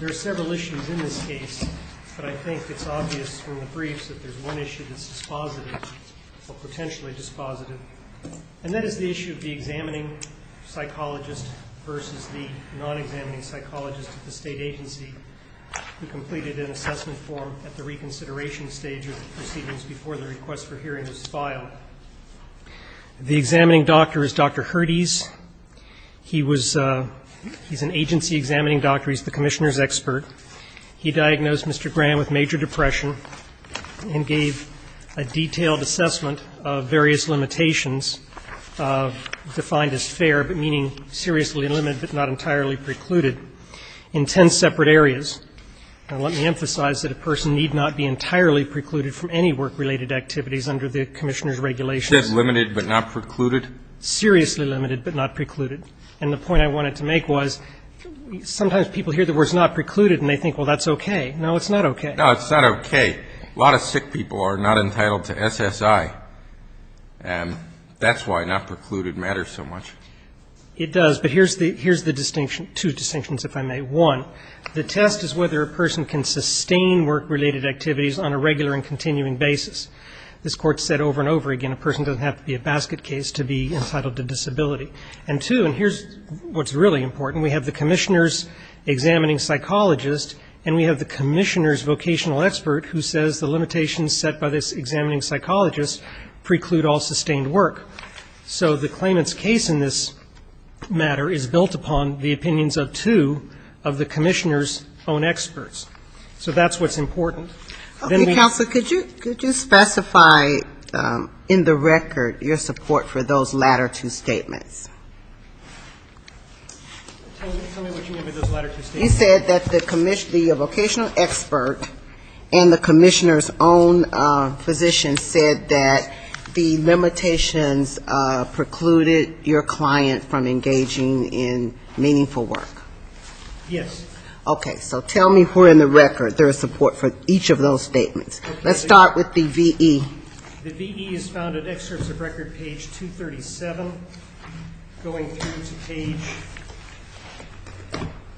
There are several issues in this case, but I think it's obvious from the briefs that there's one issue that's dispositive, or potentially dispositive, and that is the issue of the examining psychologist versus the non-examining psychologist at the state agency who completed an assessment form at the reconsideration stage of the proceedings before the request for hearing was filed. The examining doctor is Dr. Herdes. He was an agency examining doctor. He's the commissioner's expert. He diagnosed Mr. Graham with major depression and gave a detailed assessment of various limitations defined as fair, but meaning seriously limited, but not entirely precluded in ten separate areas. And let me emphasize that a person need not be entirely precluded from any work-related activities under the commissioner's regulations. This is limited, but not precluded? Seriously limited, but not precluded. And the point I wanted to make was sometimes people hear the words not precluded and they think, well, that's okay. No, it's not okay. No, it's not okay. A lot of sick people are not entitled to SSI, and that's why not precluded matters so much. It does, but here's the distinction, two distinctions, if I may. One, the test is whether a person can sustain work-related activities on a regular and continuing basis. This Court said over and over again a person doesn't have to be a basket case to be entitled to disability. And two, and here's what's really important, we have the commissioner's examining psychologist and we have the commissioner's vocational expert who says the limitations set by this examining psychologist preclude all sustained work. So the claimant's case in this matter is built upon the opinions of two of the commissioner's own experts. So that's what's important. Okay. Counsel, could you specify in the record your support for those latter two statements? Tell me what you mean by those latter two statements. You said that the vocational expert and the commissioner's own physician said that the limitations precluded your client from engaging in meaningful work. Yes. Okay. So tell me where in the record there is support for each of those statements. Let's start with the V.E. The V.E. is found in excerpts of record page 237 going through to page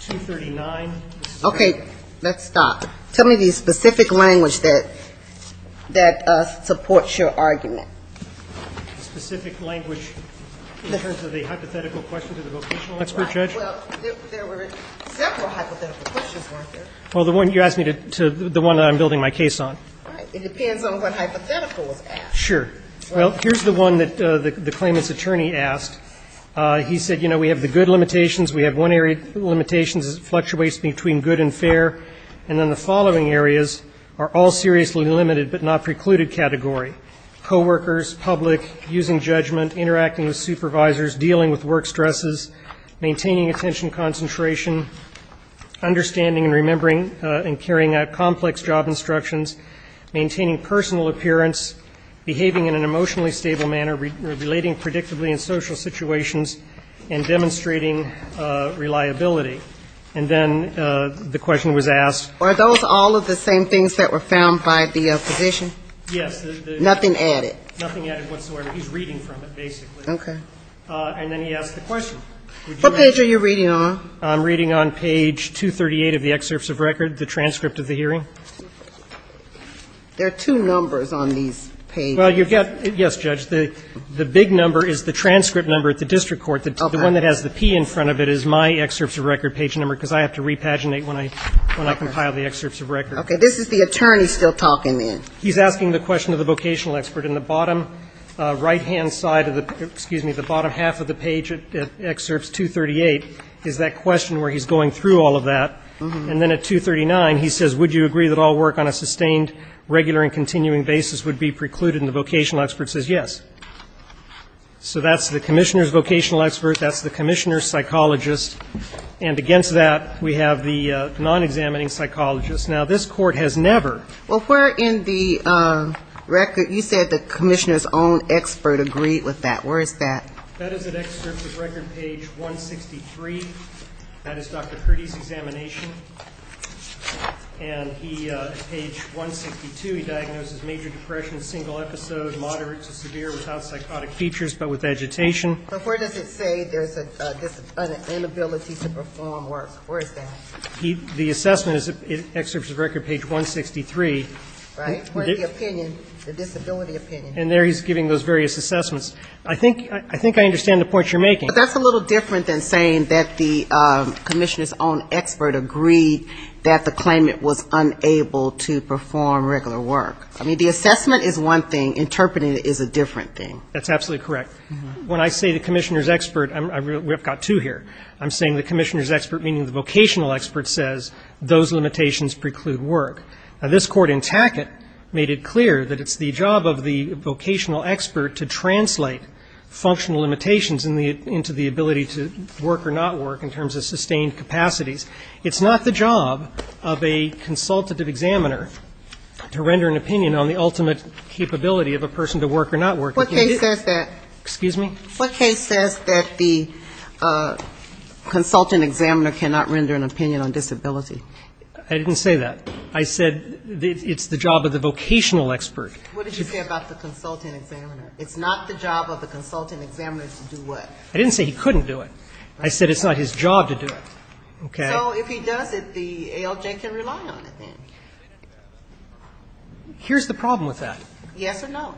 239. Okay. Let's stop. Tell me the specific language that supports your argument. Specific language in terms of the hypothetical question to the vocational expert. Well, there were several hypothetical questions, weren't there? Well, the one you asked me to, the one that I'm building my case on. Right. It depends on what hypothetical was asked. Sure. Well, here's the one that the claimant's attorney asked. He said, you know, we have the good limitations, we have one area of limitations that fluctuates between good and fair, and then the following areas are all seriously limited but not precluded category. Co-workers, public, using judgment, interacting with supervisors, dealing with work stresses, maintaining attention concentration, understanding and remembering and carrying out complex job instructions, maintaining personal appearance, behaving in an emotionally stable manner, relating predictably in social situations and demonstrating reliability. And then the question was asked. Are those all of the same things that were found by the position? Yes. Nothing added? Nothing added whatsoever. He's reading from it, basically. Okay. And then he asked the question. What page are you reading on? I'm reading on page 238 of the excerpts of record, the transcript of the hearing. There are two numbers on these pages. Well, you've got to – yes, Judge. The big number is the transcript number at the district court. The one that has the P in front of it is my excerpts of record page number because I have to repaginate when I compile the excerpts of record. Okay. This is the attorney still talking then. He's asking the question to the vocational expert. In the bottom right-hand side of the – excuse me, the bottom half of the page at excerpts 238 is that question where he's going through all of that. And then at 239, he says, Would you agree that all work on a sustained, regular and continuing basis would be precluded? And the vocational expert says yes. So that's the commissioner's vocational expert. That's the commissioner's psychologist. And against that, we have the non-examining psychologist. Now, this court has never – Well, where in the record – you said the commissioner's own expert agreed with that. Where is that? That is at excerpts of record page 163. That is Dr. Kurdi's examination. And he – page 162, he diagnoses major depression, single episode, moderate to severe, without psychotic features but with agitation. But where does it say there's an inability to perform work? Where is that? The assessment is at excerpts of record page 163. Right. Where's the opinion, the disability opinion? And there he's giving those various assessments. I think I understand the point you're making. But that's a little different than saying that the commissioner's own expert agreed that the claimant was unable to perform regular work. I mean, the assessment is one thing. Interpreting it is a different thing. That's absolutely correct. When I say the commissioner's expert, we've got two here. I'm saying the commissioner's expert, meaning the vocational expert, says those limitations preclude work. Now, this Court in Tackett made it clear that it's the job of the vocational expert to translate functional limitations into the ability to work or not work in terms of sustained capacities. It's not the job of a consultative examiner to render an opinion on the ultimate capability of a person to work or not work. What case says that? Excuse me? What case says that the consultant examiner cannot render an opinion on disability? I didn't say that. I said it's the job of the vocational expert. What did you say about the consultant examiner? It's not the job of the consultant examiner to do what? I didn't say he couldn't do it. I said it's not his job to do it. Okay. So if he does it, the ALJ can rely on it then? Here's the problem with that. Yes or no?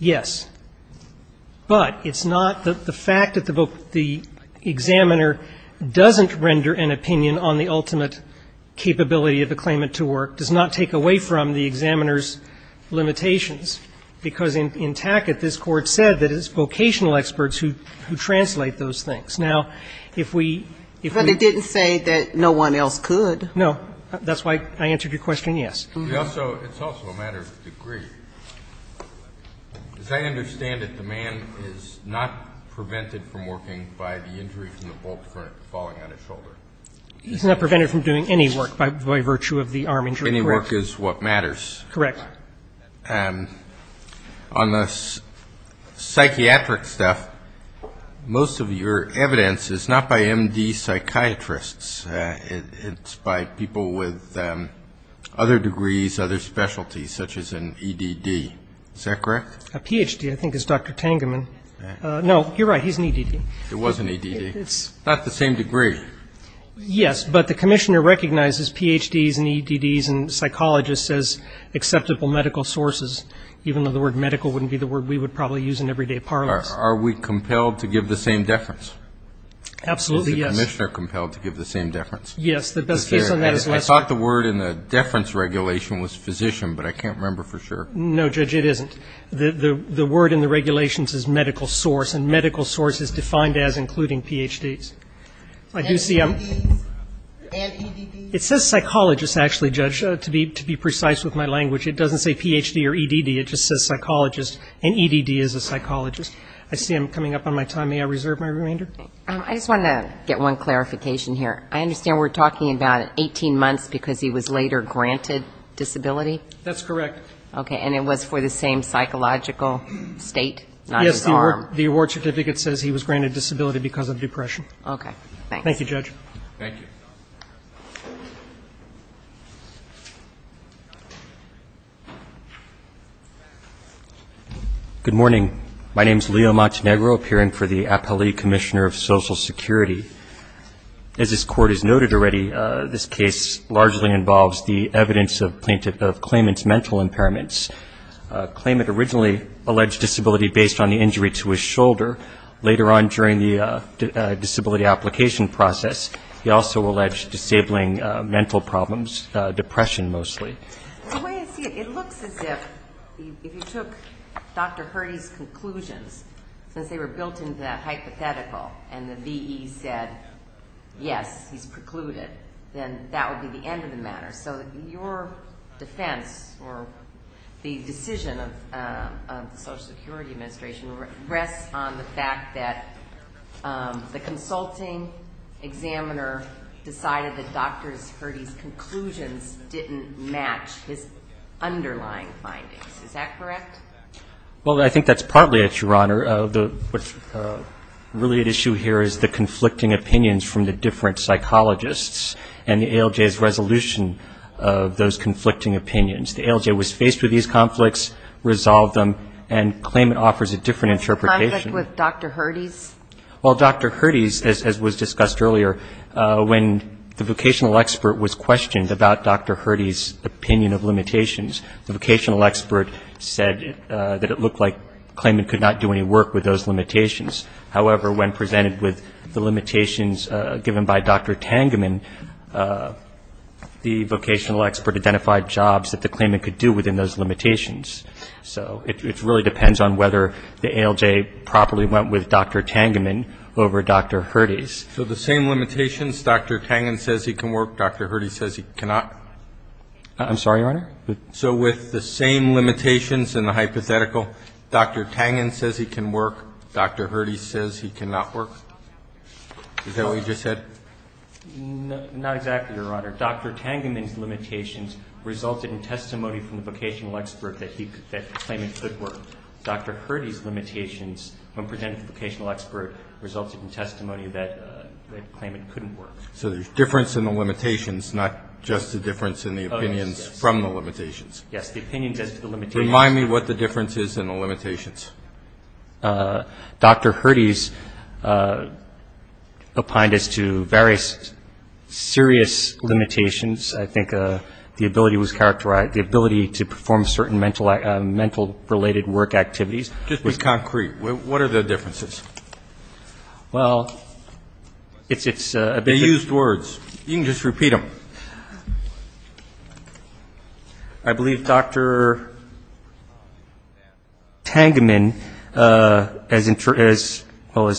Yes. But it's not the fact that the examiner doesn't render an opinion on the ultimate capability of a claimant to work does not take away from the examiner's limitations, because in Tackett this Court said that it's vocational experts who translate those things. Now, if we ---- But it didn't say that no one else could. No. That's why I answered your question, yes. It's also a matter of degree. As I understand it, the man is not prevented from working by the injury from the bolt falling on his shoulder. He's not prevented from doing any work by virtue of the arm injury. Any work is what matters. Correct. All right. On the psychiatric stuff, most of your evidence is not by M.D. psychiatrists. It's by people with other degrees, other specialties, such as an E.D.D. Is that correct? A Ph.D., I think, is Dr. Tangeman. No, you're right. He's an E.D.D. It was an E.D.D. It's not the same degree. Yes, but the commissioner recognizes Ph.D.s and E.D.D.s and psychologists as acceptable medical sources, even though the word medical wouldn't be the word we would probably use in everyday parlance. Are we compelled to give the same deference? Absolutely, yes. Is the commissioner compelled to give the same deference? Yes. The best case on that is Lester. I thought the word in the deference regulation was physician, but I can't remember for sure. No, Judge, it isn't. The word in the regulations is medical source, and medical source is defined as including Ph.D.s. And E.D.D.s. It says psychologist, actually, Judge, to be precise with my language. It doesn't say Ph.D. or E.D.D. It just says psychologist, and E.D.D. is a psychologist. I see I'm coming up on my time. May I reserve my remainder? I just wanted to get one clarification here. I understand we're talking about 18 months because he was later granted disability? That's correct. Okay, and it was for the same psychological state, not his arm? Yes, the award certificate says he was granted disability because of depression. Okay, thanks. Thank you, Judge. Thank you. Good morning. My name is Leo Montenegro, appearing for the Appellee Commissioner of Social Security. As this Court has noted already, this case largely involves the evidence of claimant's mental impairments. Claimant originally alleged disability based on the injury to his shoulder. Later on during the disability application process, he also alleged disabling mental problems, depression mostly. The way I see it, it looks as if if you took Dr. Hurdy's conclusions, since they were built into that hypothetical and the V.E. said, yes, he's precluded, then that would be the end of the matter. So your defense or the decision of the Social Security Administration rests on the fact that the consulting examiner decided that Dr. Hurdy's conclusions didn't match his underlying findings, is that correct? Well, I think that's partly it, Your Honor. What's really at issue here is the conflicting opinions from the different psychologists and the ALJ's resolution of those conflicting opinions. The ALJ was faced with these conflicts, resolved them, and claimant offers a different interpretation. A conflict with Dr. Hurdy's? Well, Dr. Hurdy's, as was discussed earlier, when the vocational expert was questioned about Dr. Hurdy's opinion of limitations, the vocational expert said that it looked like claimant could not do any work with those limitations. However, when presented with the limitations given by Dr. Tangeman, the vocational expert identified jobs that the claimant could do within those limitations. So it really depends on whether the ALJ properly went with Dr. Tangeman over Dr. Hurdy's. So the same limitations, Dr. Tangeman says he can work, Dr. Hurdy says he cannot? I'm sorry, Your Honor? So with the same limitations and the hypothetical, Dr. Tangeman says he can work, Dr. Hurdy says he cannot work? Is that what you just said? Not exactly, Your Honor. Dr. Tangeman's limitations resulted in testimony from the vocational expert that claimant could work. Dr. Hurdy's limitations, when presented to the vocational expert, resulted in testimony that claimant couldn't work. So there's difference in the limitations, not just the difference in the opinions from the limitations. Yes, the opinions as to the limitations. Remind me what the difference is in the limitations. Dr. Hurdy's opined as to various serious limitations. I think the ability was characterized, the ability to perform certain mental-related work activities. Just be concrete. What are the differences? Well, it's a bit of a ---- They used words. You can just repeat them. I believe Dr. Tangeman, as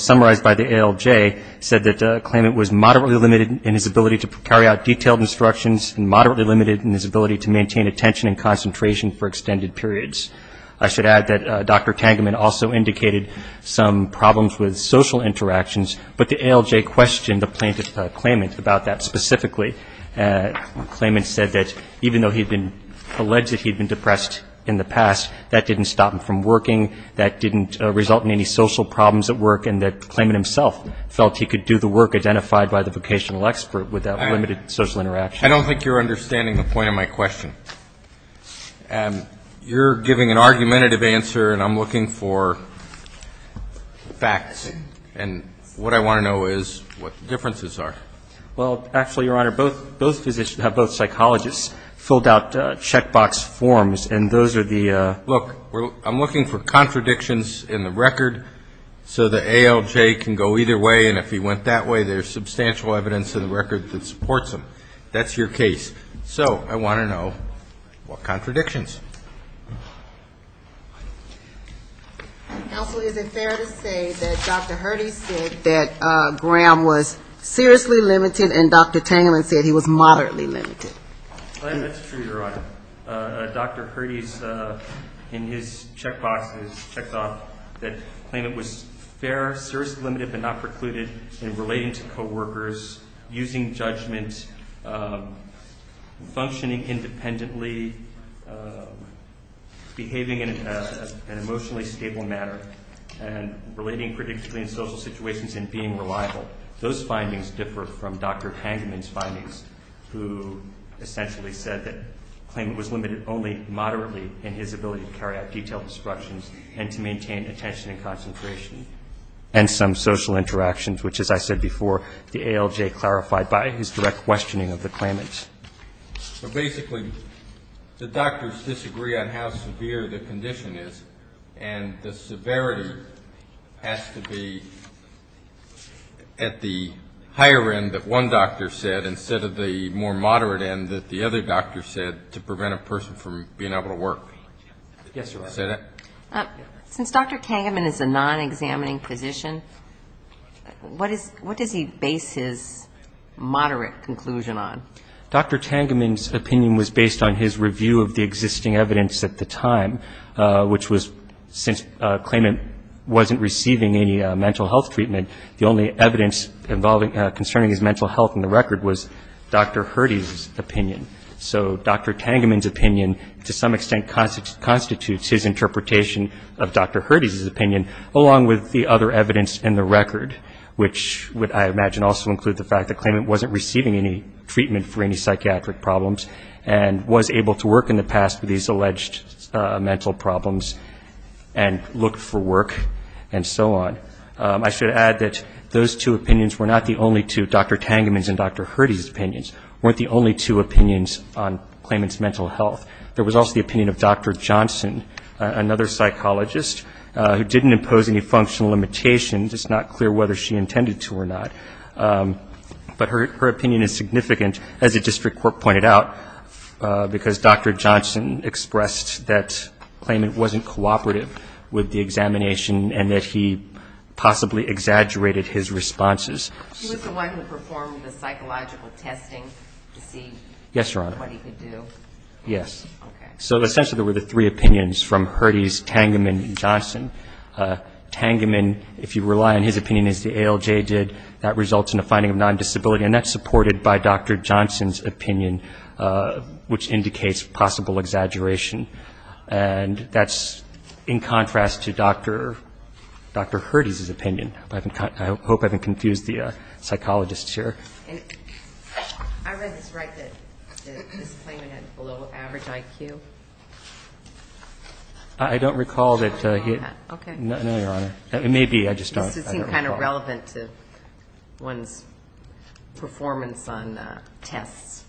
summarized by the ALJ, said that claimant was moderately limited in his ability to carry out detailed instructions and moderately limited in his ability to maintain attention and concentration for extended periods. I should add that Dr. Tangeman also indicated some problems with social interactions, but the ALJ questioned the plaintiff's claimant about that specifically. Claimant said that even though he had been alleged that he had been depressed in the past, that didn't stop him from working, that didn't result in any social problems at work, and that claimant himself felt he could do the work identified by the vocational expert without limited social interaction. I don't think you're understanding the point of my question. You're giving an argumentative answer, and I'm looking for facts. And what I want to know is what the differences are. Well, actually, Your Honor, both physicians, both psychologists, filled out checkbox forms, and those are the ---- Look, I'm looking for contradictions in the record so the ALJ can go either way, and if he went that way, there's substantial evidence in the record that supports him. That's your case. So I want to know what contradictions. Counsel, is it fair to say that Dr. Hurdy said that Graham was seriously limited and Dr. Tangerman said he was moderately limited? That's true, Your Honor. Dr. Hurdy, in his checkboxes, checked off that claimant was fair, seriously limited, but not precluded in relating to coworkers, using judgment, functioning independently, behaving in an emotionally stable manner, and relating predictably in social situations and being reliable. Those findings differ from Dr. Tangerman's findings, who essentially said that the claimant was limited only moderately in his ability to carry out detailed instructions and to maintain attention and concentration and some social interactions, which, as I said before, the ALJ clarified by his direct questioning of the claimant. So basically the doctors disagree on how severe the condition is, and the severity has to be at the higher end that one doctor said, instead of the more moderate end that the other doctor said to prevent a person from being able to work. Yes, Your Honor. Since Dr. Tangerman is a non-examining physician, what does he base his moderate conclusion on? Well, Dr. Tangerman's opinion was based on his review of the existing evidence at the time, which was since a claimant wasn't receiving any mental health treatment, the only evidence concerning his mental health in the record was Dr. Hurdy's opinion. So Dr. Tangerman's opinion, to some extent, constitutes his interpretation of Dr. Hurdy's opinion, along with the other evidence in the record, which I imagine would also include the fact that the claimant wasn't receiving any treatment for any psychiatric problems and was able to work in the past with these alleged mental problems and look for work and so on. I should add that those two opinions were not the only two, Dr. Tangerman's and Dr. Hurdy's opinions, weren't the only two opinions on the claimant's mental health. There was also the opinion of Dr. Johnson, another psychologist, who didn't impose any functional limitations, it's not clear whether she intended to or not. But her opinion is significant, as the district court pointed out, because Dr. Johnson expressed that the claimant wasn't cooperative with the examination and that he possibly exaggerated his responses. She was the one who performed the psychological testing to see what he could do? Yes. So essentially there were the three opinions from Hurdy's, Tangerman, and Johnson. Tangerman, if you rely on his opinion as the ALJ did, that results in a finding of non-disability, and that's supported by Dr. Johnson's opinion, which indicates possible exaggeration. And that's in contrast to Dr. Hurdy's opinion. I hope I haven't confused the psychologists here. I read this right, that this claimant had below average IQ? I don't recall that. No, Your Honor. It may be, I just don't recall. It seems kind of relevant to one's performance on tests,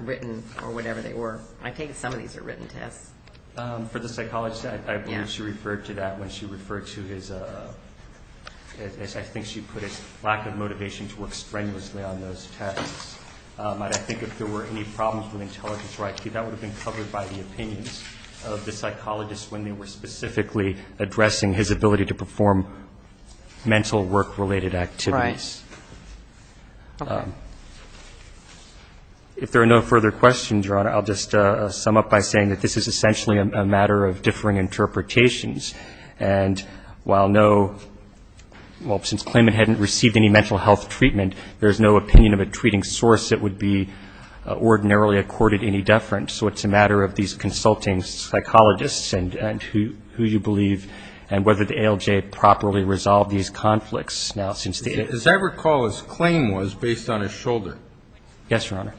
written or whatever they were. I think some of these are written tests. For the psychologist, I believe she referred to that when she referred to his, as I think she put it, lack of motivation to work strenuously on those tests. I think if there were any problems with intelligence or IQ, that would have been covered by the opinions of the psychologist when they were specifically addressing his ability to perform mental work-related activities. If there are no further questions, Your Honor, I'll just sum up by saying that this is essentially a matter of differing interpretations. And while no, well, since the claimant hadn't received any mental health treatment, there is no opinion of a treating source that would be ordinarily accorded any deference. So it's a matter of these consulting psychologists and who you believe, and whether the ALJ properly resolved these conflicts. Now, since the ALJ. As I recall, his claim was based on his shoulder. Yes, Your Honor.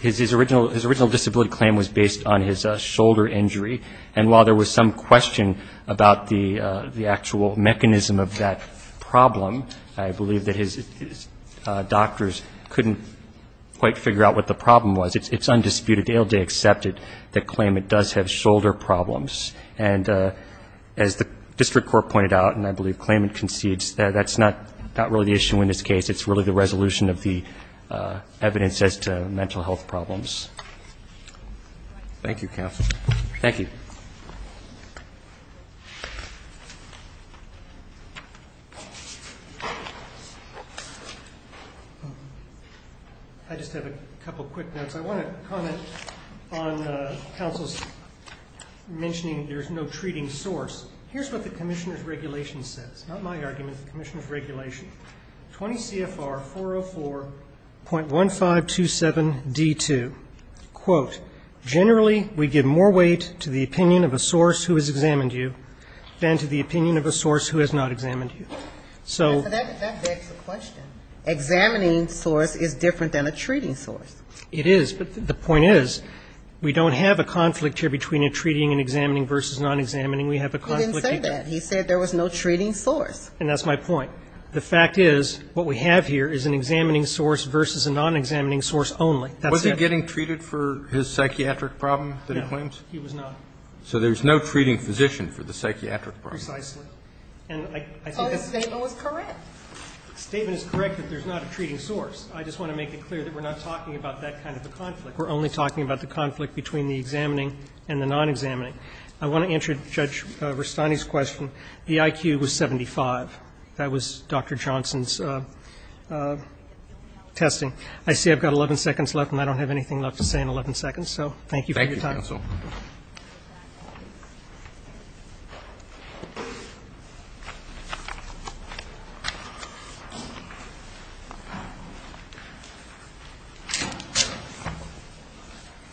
His original disability claim was based on his shoulder injury. And while there was some question about the actual mechanism of that problem, I believe that his doctors couldn't quite figure out what the problem was. It's undisputed. The ALJ accepted the claim it does have shoulder problems. And as the district court pointed out, and I believe claimant concedes, that's not really the issue in this case. It's really the resolution of the evidence as to mental health problems. Thank you, counsel. Thank you. I just have a couple of quick notes. I want to comment on counsel's mentioning there's no treating source. Here's what the commissioner's regulation says. Not my argument, the commissioner's regulation. 20 CFR 404.1527D2, quote, generally we give more weight to the opinion of a source who has examined you than to the opinion of a source who has not examined you. So that begs the question. Examining source is different than a treating source. It is. But the point is we don't have a conflict here between a treating and examining versus non-examining. We have a conflict. He didn't say that. He said there was no treating source. And that's my point. The fact is what we have here is an examining source versus a non-examining source only. Was he getting treated for his psychiatric problem that he claims? No. He was not. So there's no treating physician for the psychiatric problem. Precisely. And I think that's correct. The statement is correct that there's not a treating source. I just want to make it clear that we're not talking about that kind of a conflict. We're only talking about the conflict between the examining and the non-examining. I want to answer Judge Rustani's question. The IQ was 75. That was Dr. Johnson's testing. I see I've got 11 seconds left, and I don't have anything left to say in 11 seconds. So thank you for your time. Thank you, counsel.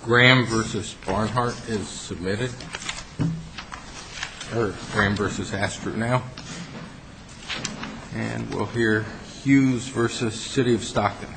Graham versus Barnhart is submitted. Or Graham versus Astro now. And we'll hear Hughes versus City of Stockton.